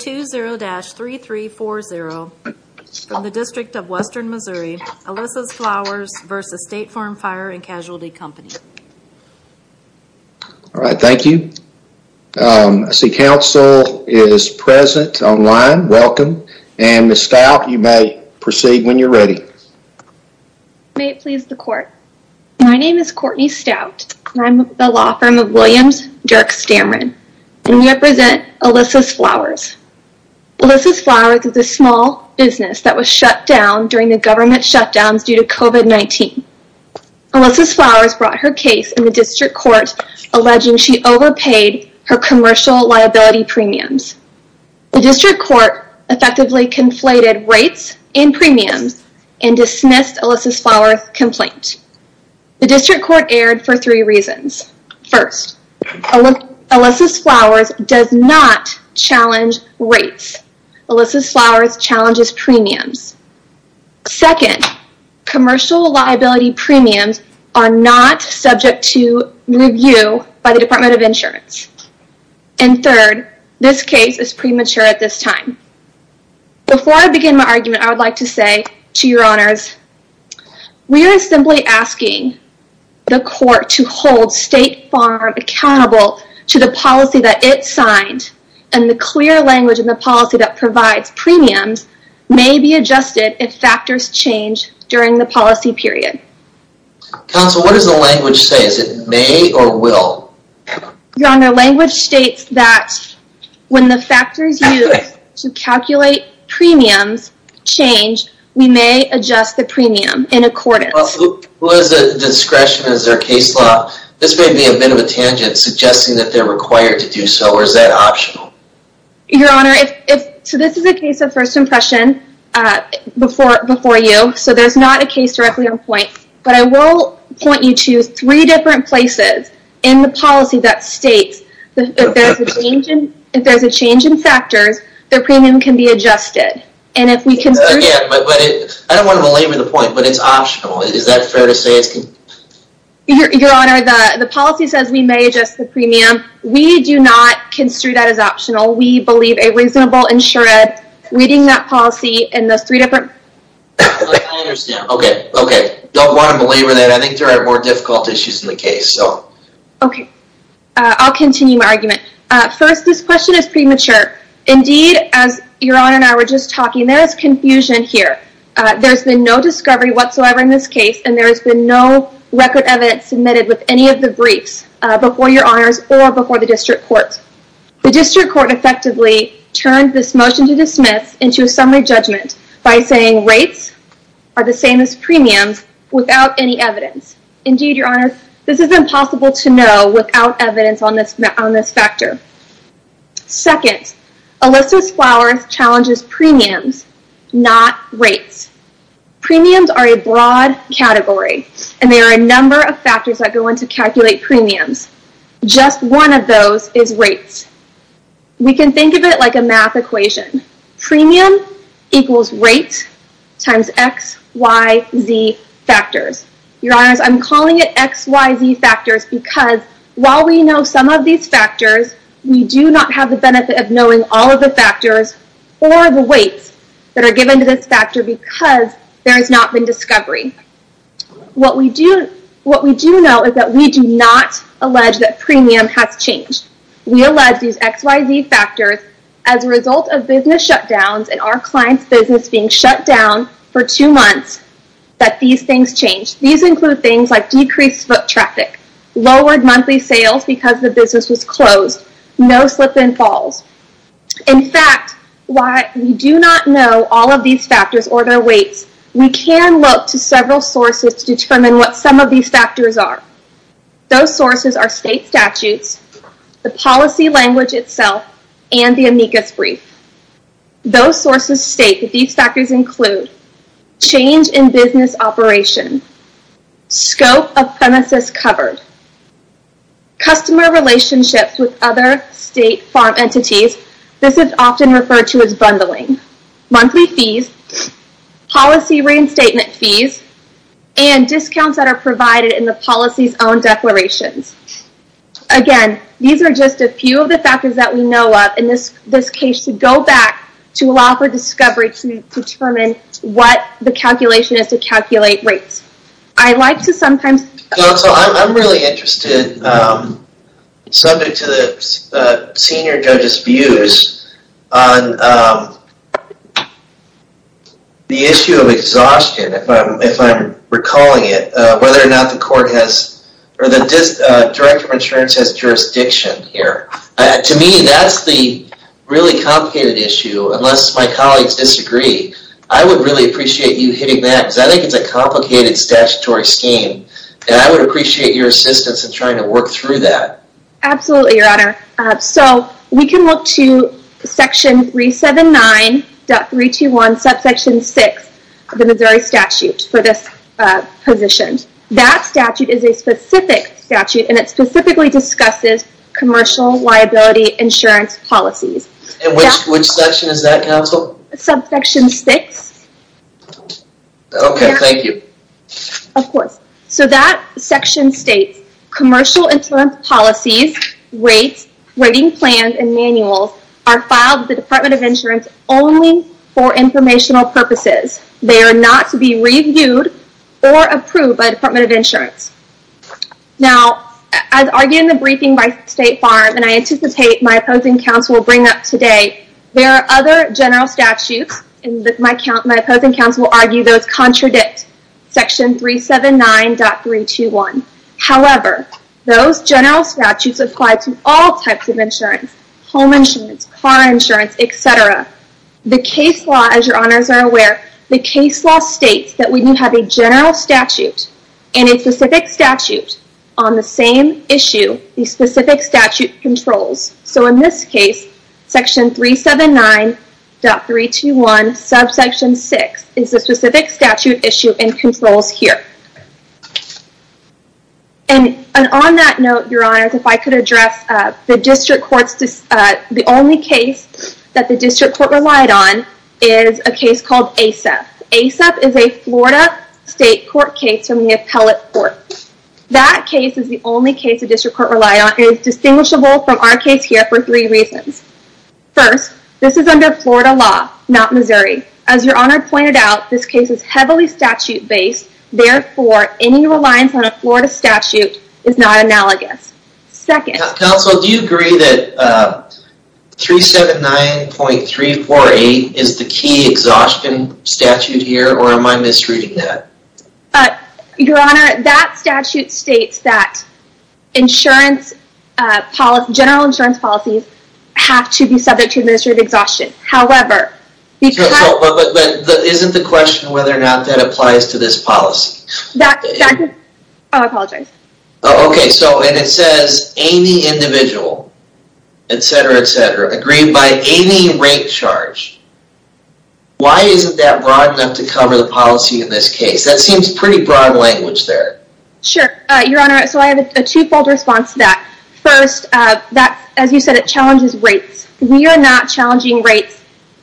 20-3340 from the District of Western Missouri, Alissa's Flowers v. State Farm Fire & Casualty Co. All right, thank you. I see counsel is present online, welcome, and Ms. Stout, you may proceed when you're ready. May it please the court, my name is Courtney Stout, and I'm with the law firm of Williams Dirk Stamrin, and we represent Alissa's Flowers. Alissa's Flowers is a small business that was shut down during the government shutdowns due to COVID-19. Alissa's Flowers brought her case in the district court alleging she overpaid her commercial liability premiums. The district court effectively conflated rates and premiums and dismissed Alissa's Flowers complaint. The district court erred for three reasons. First, Alissa's Flowers does not challenge rates. Alissa's Flowers challenges premiums. Second, commercial liability premiums are not subject to review by the Department of Insurance. And third, this case is premature at this time. Before I begin my argument, I would like to say, to your honors, we are simply asking the court to hold State Farm accountable to the policy that it signed, and the clear language in the policy that provides premiums may be adjusted if factors change during the policy period. Counsel, what does the language say, is it may or will? Your honor, language states that when the factors used to calculate premiums change, we may adjust the premium in accordance. Well, who has the discretion, is there a case law, this may be a bit of a tangent, suggesting that they're required to do so, or is that optional? Your honor, so this is a case of first impression before you, so there's not a case directly at this point. But I will point you to three different places in the policy that states that if there's a change in factors, the premium can be adjusted. And if we can... Again, I don't want to belabor the point, but it's optional, is that fair to say? Your honor, the policy says we may adjust the premium. We do not construe that as optional. We believe a reasonable insured, reading that policy in those three different... I understand, okay, okay, don't want to belabor that, I think there are more difficult issues in the case, so... Okay, I'll continue my argument. First, this question is premature. Indeed, as your honor and I were just talking, there is confusion here. There's been no discovery whatsoever in this case, and there has been no record evidence submitted with any of the briefs before your honors or before the district court. The district court effectively turned this motion to dismiss into a summary judgment by saying rates are the same as premiums without any evidence. Indeed, your honor, this is impossible to know without evidence on this factor. Second, Elyssa's Flowers challenges premiums, not rates. Premiums are a broad category, and there are a number of factors that go into calculate premiums. Just one of those is rates. We can think of it like a math equation. Premium equals rate times X, Y, Z factors. Your honors, I'm calling it X, Y, Z factors because while we know some of these factors, we do not have the benefit of knowing all of the factors or the weights that are given to this factor because there has not been discovery. What we do know is that we do not allege that premium has changed. We allege these X, Y, Z factors as a result of business shutdowns and our client's business being shut down for two months that these things changed. These include things like decreased foot traffic, lowered monthly sales because the business was closed, no slip and falls. In fact, while we do not know all of these factors or their weights, we can look to several sources to determine what some of these factors are. Those sources are state statutes, the policy language itself, and the amicus brief. Those sources state that these factors include change in business operation, scope of premises covered, customer relationships with other state farm entities. This is often referred to as bundling, monthly fees, policy reinstatement fees, and discounts that are provided in the policy's own declarations. Again, these are just a few of the factors that we know of in this case to go back to allow for discovery to determine what the calculation is to calculate rates. I like to sometimes... Counsel, I'm really interested, subject to the senior judge's views, on the issue of recalling it, whether or not the court has, or the director of insurance has jurisdiction here. To me, that's the really complicated issue, unless my colleagues disagree. I would really appreciate you hitting that because I think it's a complicated statutory scheme and I would appreciate your assistance in trying to work through that. Absolutely, your honor. So we can look to section 379.321 subsection 6 of the Missouri statute for this position. That statute is a specific statute and it specifically discusses commercial liability insurance policies. And which section is that, counsel? Subsection 6. Okay, thank you. Of course. So that section states, commercial insurance policies, rates, rating plans, and manuals are filed with the Department of Insurance only for informational purposes. They are not to be reviewed or approved by the Department of Insurance. Now, as argued in the briefing by State Farm, and I anticipate my opposing counsel will bring up today, there are other general statutes, and my opposing counsel will argue those contradict section 379.321. However, those general statutes apply to all types of insurance. Home insurance, car insurance, etc. The case law, as your honors are aware, the case law states that when you have a general statute and a specific statute on the same issue, the specific statute controls. So in this case, section 379.321, subsection 6 is a specific statute issue and controls here. And on that note, your honors, if I could address the district court's, the only case that the district court relied on is a case called ASAP. ASAP is a Florida state court case from the appellate court. That case is the only case the district court relied on and is distinguishable from our case here for three reasons. First, this is under Florida law, not Missouri. As your honor pointed out, this case is heavily statute based. Therefore, any reliance on a Florida statute is not analogous. Second. Counsel, do you agree that 379.348 is the key exhaustion statute here or am I misreading that? Your honor, that statute states that insurance policy, general insurance policies have to be subject to administrative exhaustion. However. Isn't the question whether or not that applies to this policy? Oh, I apologize. Okay. So and it says any individual, et cetera, et cetera, agreed by any rate charge. Why isn't that broad enough to cover the policy in this case? That seems pretty broad language there. Sure, your honor. So I have a twofold response to that. First, as you said, it challenges rates. We are not challenging rates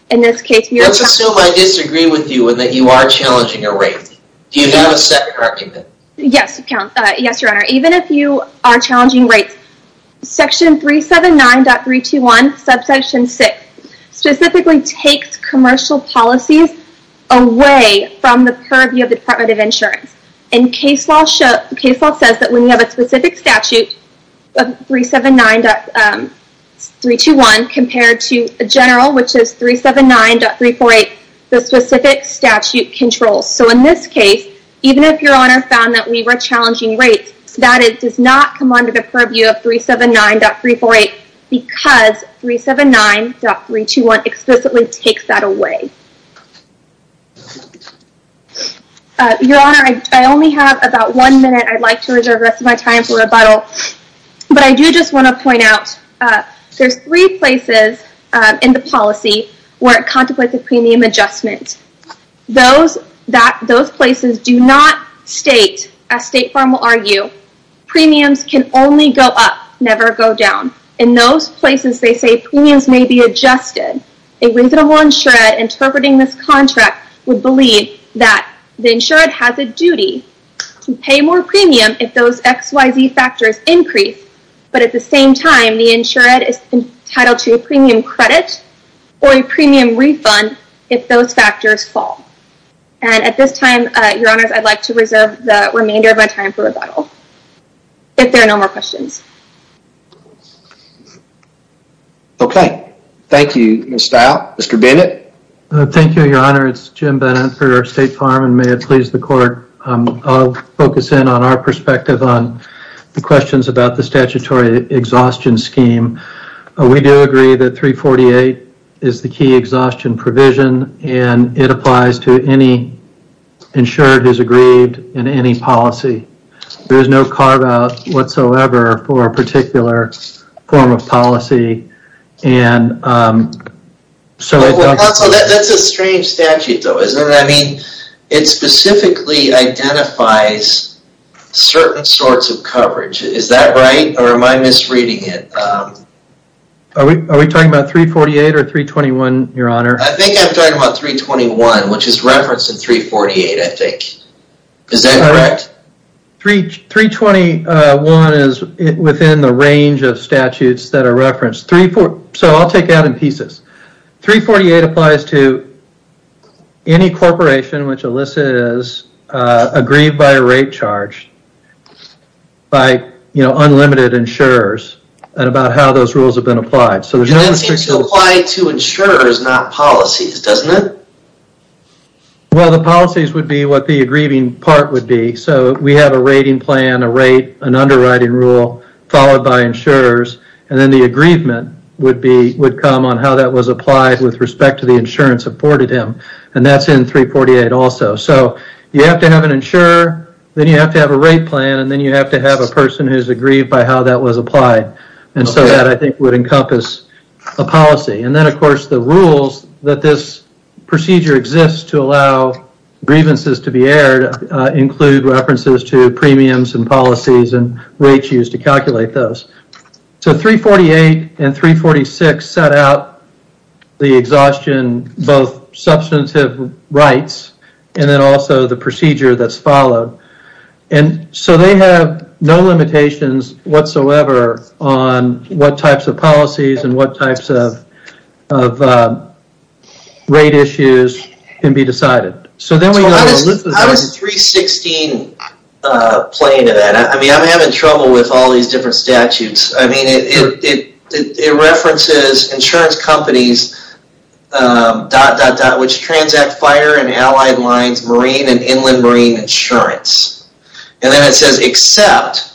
in this case. Let's assume I disagree with you and that you are challenging a rate. Do you have a second argument? Yes, your honor. Even if you are challenging rates, section 379.321 subsection six specifically takes commercial policies away from the purview of the Department of Insurance. And case law says that when you have a specific statute of 379.321 compared to a general, which is 379.348, the specific statute controls. So in this case, even if your honor found that we were challenging rates, that does not come under the purview of 379.348 because 379.321 explicitly takes that away. Your honor, I only have about one minute. I'd like to reserve the rest of my time for rebuttal, but I do just want to point out there's three places in the policy where it contemplates a premium adjustment. Those places do not state, as State Farm will argue, premiums can only go up, never go down. In those places, they say premiums may be adjusted. A reasonable insured interpreting this contract would believe that the insured has a duty to pay more premium if those XYZ factors increase. But at the same time, the insured is entitled to a premium credit or a premium refund if those factors fall. And at this time, your honors, I'd like to reserve the remainder of my time for rebuttal if there are no more questions. Okay, thank you, Ms. Stile. Mr. Bennett? Thank you, your honor. It's Jim Bennett for State Farm and may it please the court, I'll focus in on our perspective on the questions about the statutory exhaustion scheme. We do agree that 348 is the key exhaustion provision and it applies to any insured who's aggrieved in any policy. There is no carve-out whatsoever for a particular form of policy. That's a strange statute though, isn't it? I mean, it specifically identifies certain sorts of coverage. Is that right or am I misreading it? Are we talking about 348 or 321, your honor? I think I'm talking about 321, which is referenced in 348, I think. Is that correct? 321 is within the range of statutes that are referenced. So I'll take that in pieces. 348 applies to any corporation which elicits aggrieved by a rate charge by unlimited insurers and about how those rules have been applied. So it seems to apply to insurers, not policies, doesn't it? Well, the policies would be what the aggrieving part would be. So we have a rating plan, a rate, an underwriting rule followed by insurers and then the aggrievement would come on how that was applied with respect to the insurance afforded him and that's in 348 also. So you have to have an insurer, then you have to have a rate plan and then you have to have a person who's aggrieved by how that was applied and so that, I think, would encompass a policy. And then, of course, the rules that this procedure exists to allow grievances to be aired include references to premiums and policies and rates used to calculate those. So 348 and 346 set out the exhaustion, both substantive rights and then also the procedure that's followed. And so they have no limitations whatsoever on what types of policies and what types of rate issues can be decided. How does 316 play into that? I mean, I'm having trouble with all these different statutes. I mean, it references insurance companies dot, dot, dot, which transact fire and allied lines marine and inland marine insurance. And then it says except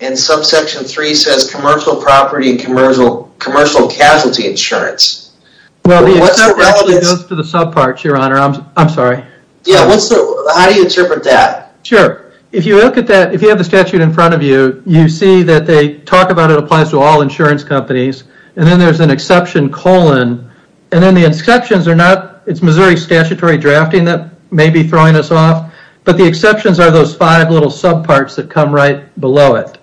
and subsection 3 says commercial property and commercial casualty insurance. Well, the except goes to the subparts, your honor. I'm sorry. Yeah, how do you interpret that? Sure. If you look at that, if you have the statute in front of you, you see that they talk about it applies to all insurance companies and then there's an exception colon and then the exceptions are not, it's Missouri statutory drafting that may be throwing us off. But the exceptions are those five little subparts that come right below it.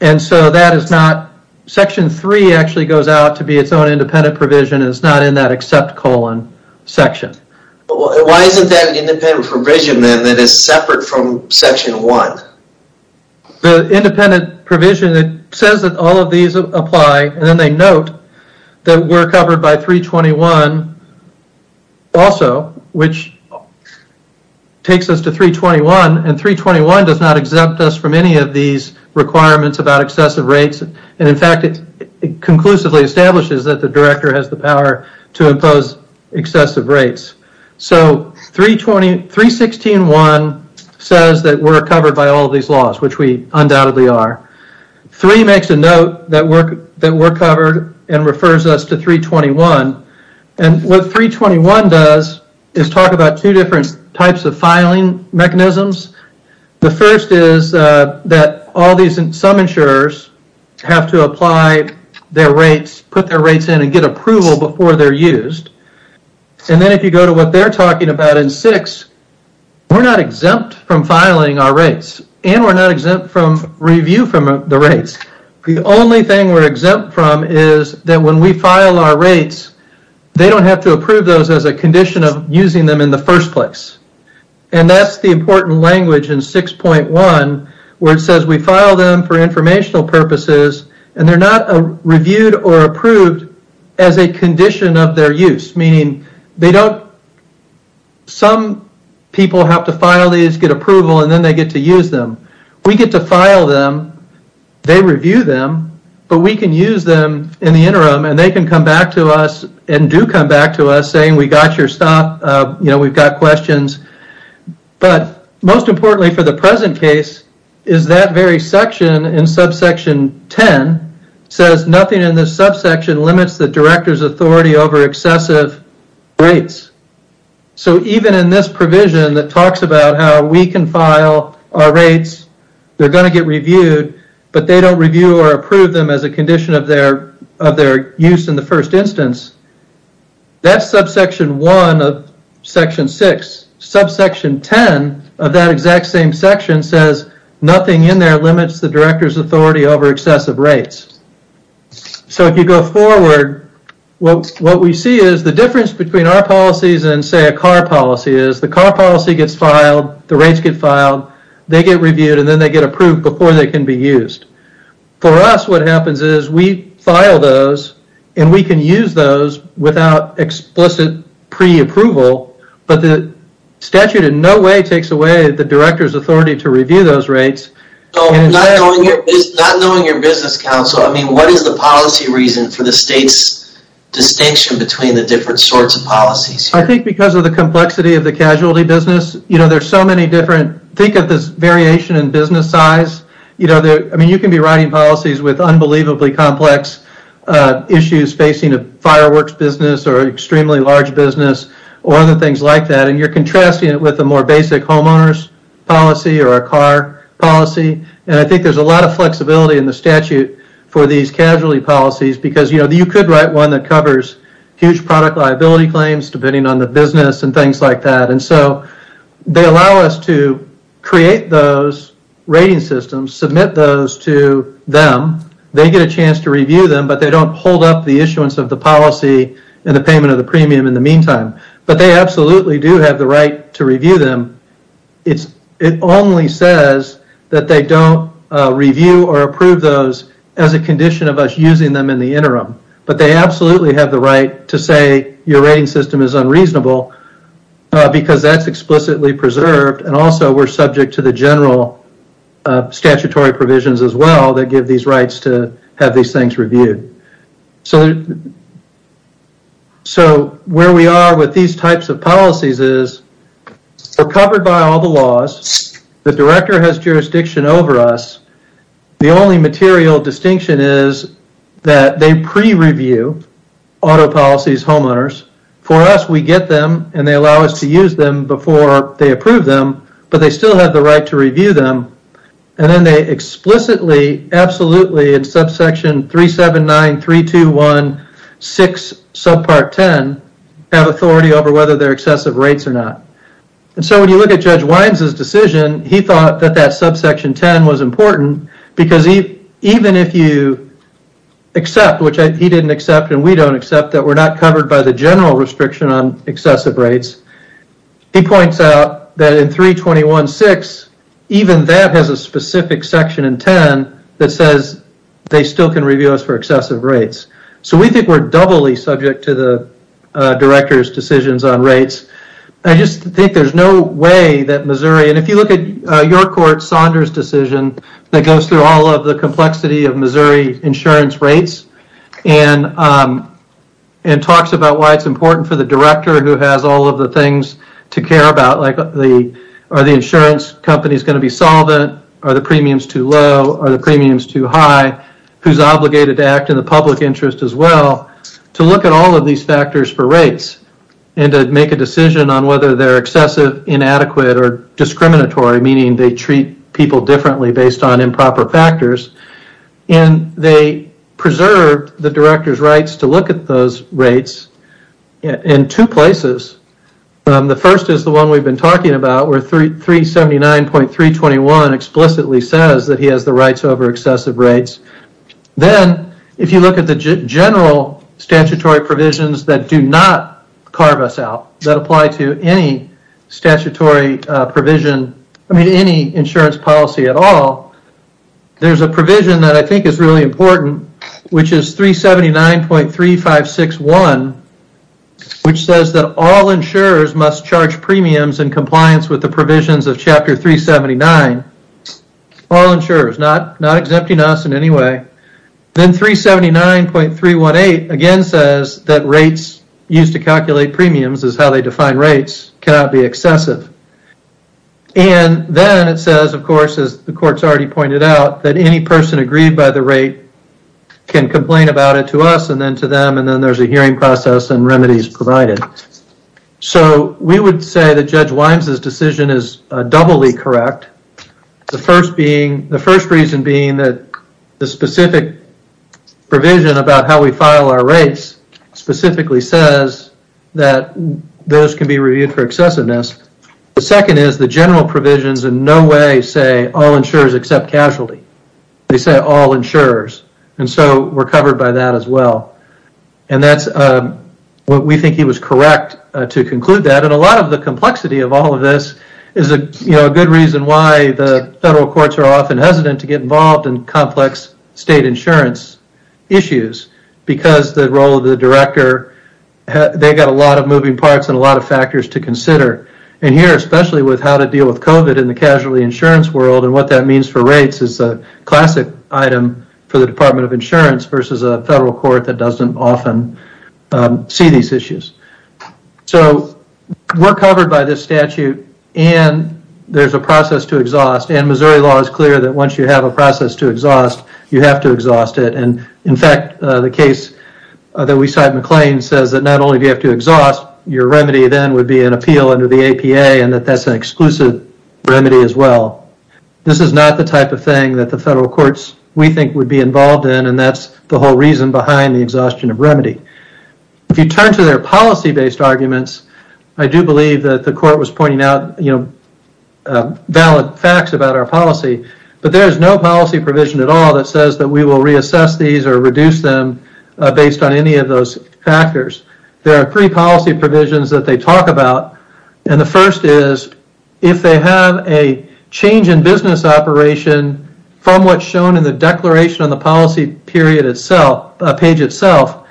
And so that is not, section three actually goes out to be its own independent provision and it's not in that except colon section. Why isn't that independent provision then that is separate from section one? The independent provision that says that all of these apply and then they note that we're also, which takes us to 321 and 321 does not exempt us from any of these requirements about excessive rates. And in fact, it conclusively establishes that the director has the power to impose excessive rates. So 316.1 says that we're covered by all of these laws, which we undoubtedly are. Three makes a note that we're covered and refers us to 321. And what 321 does is talk about two different types of filing mechanisms. The first is that all these, some insurers have to apply their rates, put their rates in and get approval before they're used. And then if you go to what they're talking about in six, we're not exempt from filing our rates and we're not exempt from review from the rates. The only thing we're exempt from is that when we file our rates, they don't have to approve those as a condition of using them in the first place. And that's the important language in 6.1 where it says we file them for informational purposes and they're not reviewed or approved as a condition of their use. Meaning they don't, some people have to file these, get approval, and then they get to use them. We get to file them, they review them, but we can use them in the interim and they can come back to us and do come back to us saying we got your stop, we've got questions. But most importantly for the present case is that very section in subsection 10 says nothing in this subsection limits the director's authority over excessive rates. So even in this provision that talks about how we can file our rates, they're going to get reviewed, but they don't review or approve them as a condition of their use in the first instance. That's subsection 1 of section 6. Subsection 10 of that exact same section says nothing in there limits the director's authority over excessive rates. So if you go forward, what we see is the difference between our policies and say a car policy is the car policy gets filed, the rates get filed, they get reviewed, and then they get approved before they can be used. For us what happens is we file those and we can use those without explicit pre-approval, but the statute in no way takes away the director's authority to review those rates. So not knowing your business counsel, I mean what is the policy reason for the state's distinction between the different sorts of policies? I think because of the complexity of the casualty business, you know there's so many different, think of this variation in business size, you know, I mean you can be writing policies with unbelievably complex issues facing a fireworks business or extremely large business or other things like that and you're contrasting it with a more basic homeowners policy or a car policy and I think there's a lot of flexibility in the statute for these casualty policies because you know you could write one that covers huge product liability claims depending on the business and things like that and so they allow us to create those rating systems, submit those to them, they get a chance to review them but they don't hold up the issuance of the policy and the payment of the premium in the meantime. But they absolutely do have the right to review them. It only says that they don't review or approve those as a condition of us using them in the interim but they absolutely have the right to say your rating system is unreasonable because that's explicitly preserved and also we're subject to the general statutory provisions as well that give these rights to have these things reviewed. So where we are with these types of policies is we're covered by all the laws, the director has jurisdiction over us, the only material distinction is that they pre-review auto policies homeowners. For us, we get them and they allow us to use them before they approve them but they still have the right to review them and then they explicitly, absolutely in subsection 379.321.6 subpart 10 have authority over whether they're excessive rates or not. And so when you look at Judge Wines' decision, he thought that that subsection 10 was important because even if you accept, which he didn't accept and we don't accept that we're not covered by the general restriction on excessive rates, he points out that in 321.6, even that has a specific section in 10 that says they still can review us for excessive rates. So we think we're doubly subject to the director's decisions on rates. I just think there's no way that Missouri, and if you look at your court Saunders' decision that goes through all of the complexity of Missouri insurance rates and talks about why it's important for the director who has all of the things to care about, like are the insurance companies going to be solvent, are the premiums too low, are the premiums too high, who's obligated to act in the public interest as well, to look at all of these factors for rates and to make a decision on whether they're excessive, inadequate, or discriminatory, meaning they treat people differently based on improper The first is the one we've been talking about where 379.321 explicitly says that he has the rights over excessive rates. Then if you look at the general statutory provisions that do not carve us out, that apply to any statutory provision, I mean any insurance policy at all, there's a provision that I think is really important which is 379.3561 which says that all insurers must charge premiums in compliance with the provisions of chapter 379. All insurers, not exempting us in any way. Then 379.318 again says that rates used to calculate premiums is how they define rates cannot be excessive. And then it says of course as the court's already pointed out that any person agreed by the rate can complain about it to us and then there's a hearing process and remedies provided. So we would say that Judge Wines' decision is doubly correct. The first reason being that the specific provision about how we file our rates specifically says that those can be reviewed for excessiveness. The second is the general provisions in no way say all insurers except casualty. They say all insurers and so we're and that's what we think he was correct to conclude that. And a lot of the complexity of all of this is a good reason why the federal courts are often hesitant to get involved in complex state insurance issues because the role of the director, they got a lot of moving parts and a lot of factors to consider. And here especially with how to deal with COVID in the casualty insurance world and what that means for rates is a classic item for the Department of Insurance versus a federal court that doesn't often see these issues. So we're covered by this statute and there's a process to exhaust and Missouri law is clear that once you have a process to exhaust you have to exhaust it and in fact the case that we cite McLean says that not only do you have to exhaust your remedy then would be an appeal under the APA and that that's an exclusive remedy as well. This is not the type of thing that the federal courts we think would be involved in and that's the whole reason behind the exhaustion of remedy. If you turn to their policy-based arguments I do believe that the court was pointing out you know valid facts about our policy but there is no policy provision at all that says that we will reassess these or reduce them based on any of those factors. There are three policy provisions that they talk about and the first is if they have a change in business operation from what's shown in the declaration on the policy period itself a page itself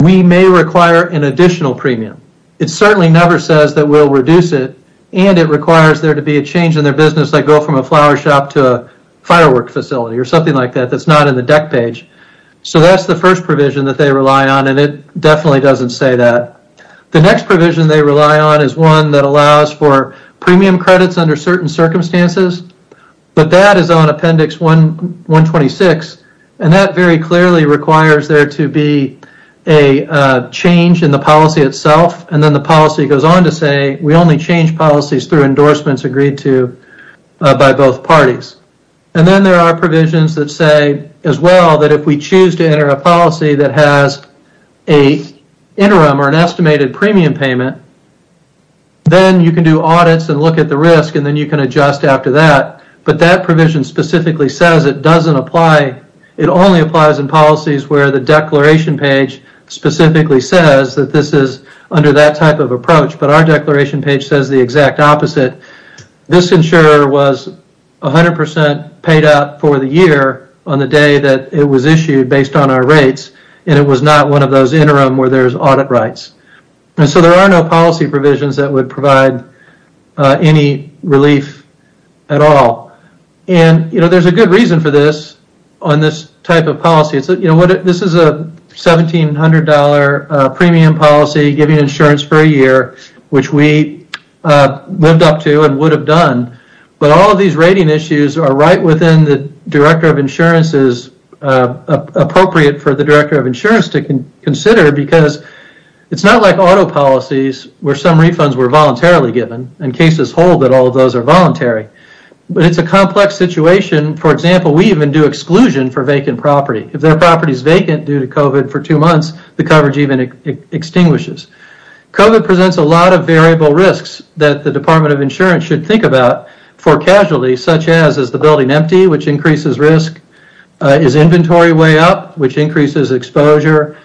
we may require an additional premium. It certainly never says that we'll reduce it and it requires there to be a change in their business like go from a flower shop to a firework facility or something like that that's not in the deck page. So that's the first provision that they rely on and it definitely doesn't say that. The next provision they rely on is one that is on appendix 126 and that very clearly requires there to be a change in the policy itself and then the policy goes on to say we only change policies through endorsements agreed to by both parties. And then there are provisions that say as well that if we choose to enter a policy that has a interim or an estimated premium payment then you can do audits and look at the risk and then you can adjust after that but that provision specifically says it doesn't apply it only applies in policies where the declaration page specifically says that this is under that type of approach but our declaration page says the exact opposite. This insurer was 100 percent paid out for the year on the day that it was issued based on our rates and it was not one of those interim where there's audit rights and so there are no policy provisions that would provide any relief at all. And you know there's a good reason for this on this type of policy it's you know what this is a 1700 premium policy giving insurance for a year which we lived up to and would have done but all of these rating issues are right within the Director of Insurance's appropriate for the Director of Insurance to consider because it's not like auto policies where some refunds were voluntarily given and cases hold that all those are voluntary but it's a complex situation for example we even do exclusion for vacant property if their property is vacant due to COVID for two months the coverage even extinguishes. COVID presents a lot of variable risks that the Department of Insurance should think about for casualties such as is the building empty which increases risk is inventory way up which increases exposure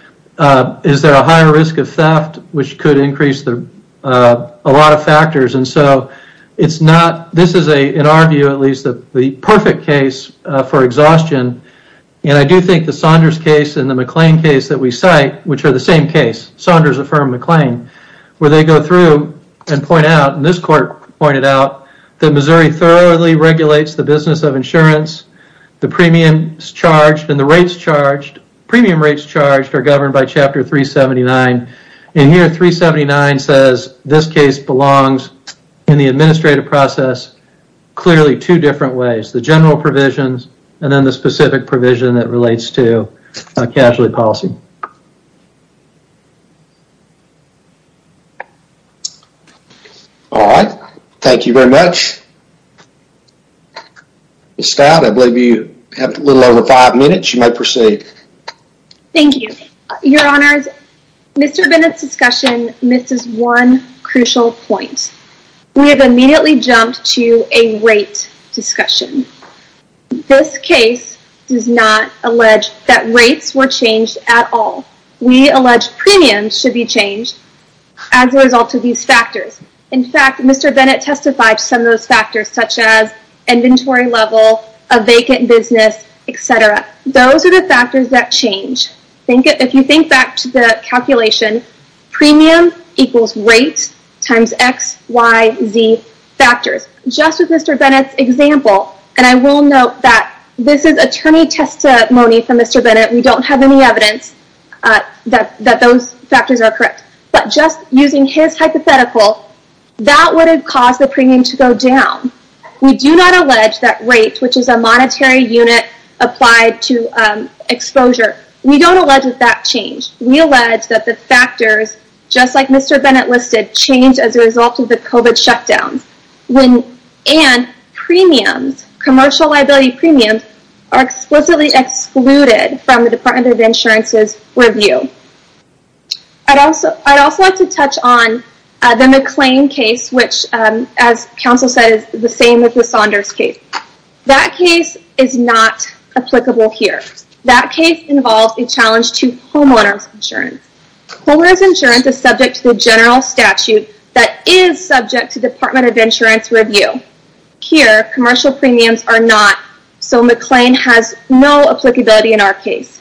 is there a higher risk of theft which could increase the a lot of factors and so it's not this is a in our view at least the perfect case for exhaustion and I do think the Saunders case and the McLean case that which are the same case Saunders affirmed McLean where they go through and point out and this court pointed out that Missouri thoroughly regulates the business of insurance the premium is charged and the rates charged premium rates charged are governed by chapter 379 and here 379 says this case belongs in the administrative process clearly two different ways the general provisions and then specific provision that relates to a casualty policy all right thank you very much Miss Scott I believe you have a little over five minutes you may proceed thank you your honors Mr. Bennett's discussion misses one crucial point we have immediately jumped to a rate discussion this case does not allege that rates were changed at all we allege premiums should be changed as a result of these factors in fact Mr. Bennett testified some of those factors such as inventory level a vacant business etc those are the factors that think if you think back to the calculation premium equals rate times x y z factors just with Mr. Bennett's example and I will note that this is attorney testimony from Mr. Bennett we don't have any evidence that that those factors are correct but just using his hypothetical that would have caused the premium to go down we do not allege that rate which is a monetary unit applied to exposure we don't allege that change we allege that the factors just like Mr. Bennett listed change as a result of the COVID shutdown when and premiums commercial liability premiums are explicitly excluded from the Department of Insurance's review I'd also I'd also like to touch on the McLean case which as counsel said is the same as the Saunders case that case is not applicable here that case involves a challenge to homeowners insurance homeowners insurance is subject to the general statute that is subject to Department of Insurance review here commercial premiums are not so McLean has no applicability in our case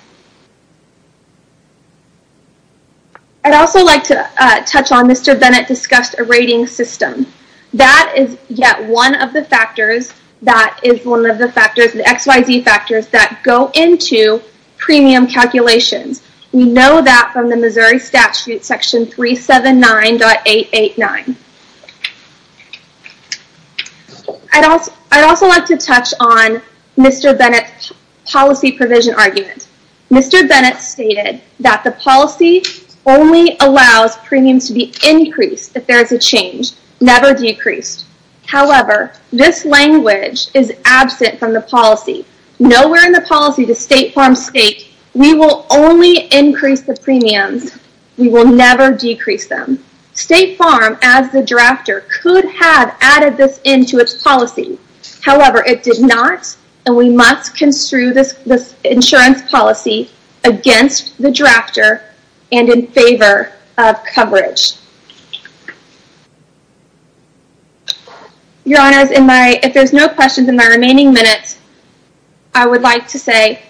I'd also like to touch on Mr. Bennett discussed a rating system that is yet one of the factors that is one of the factors the xyz factors that go into premium calculations we know that from the Missouri statute section 379.889 I'd also I'd also like to touch on Mr. Bennett's policy provision argument Mr. Bennett stated that the policy only allows premiums to be increased if there is a change never decreased however this language is absent from the policy nowhere in the policy the state farm state we will only increase the premiums we will never decrease them state farm as the drafter could have added this into its policy however it did not and we must construe this this insurance policy against the drafter and in favor of coverage your honors in my if there's no questions in my remaining minutes I would like to say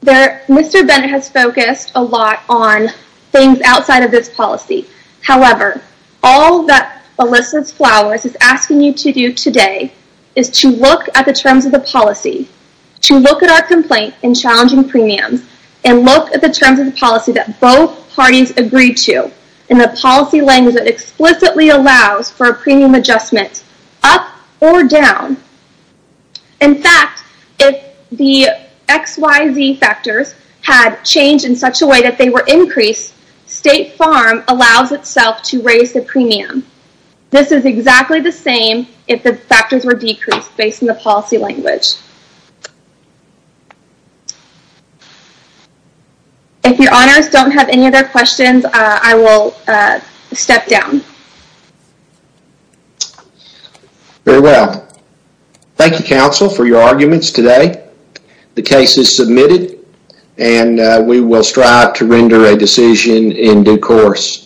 there Mr. Bennett has focused a lot on things outside of this policy however all that elicits flowers is asking you to do today is to look at the terms of the policy to look at our complaint in challenging premiums and look at the terms of the policy that both parties agree to in the policy language that explicitly allows for a premium adjustment up or down in fact if the xyz factors had changed in such a way that they were increased state farm allows itself to raise the premium this is exactly the same if the factors were decreased based on the policy language if your honors don't have any other questions I will uh step down very well thank you counsel for your arguments today the case is submitted and we will strive to render a decision in due course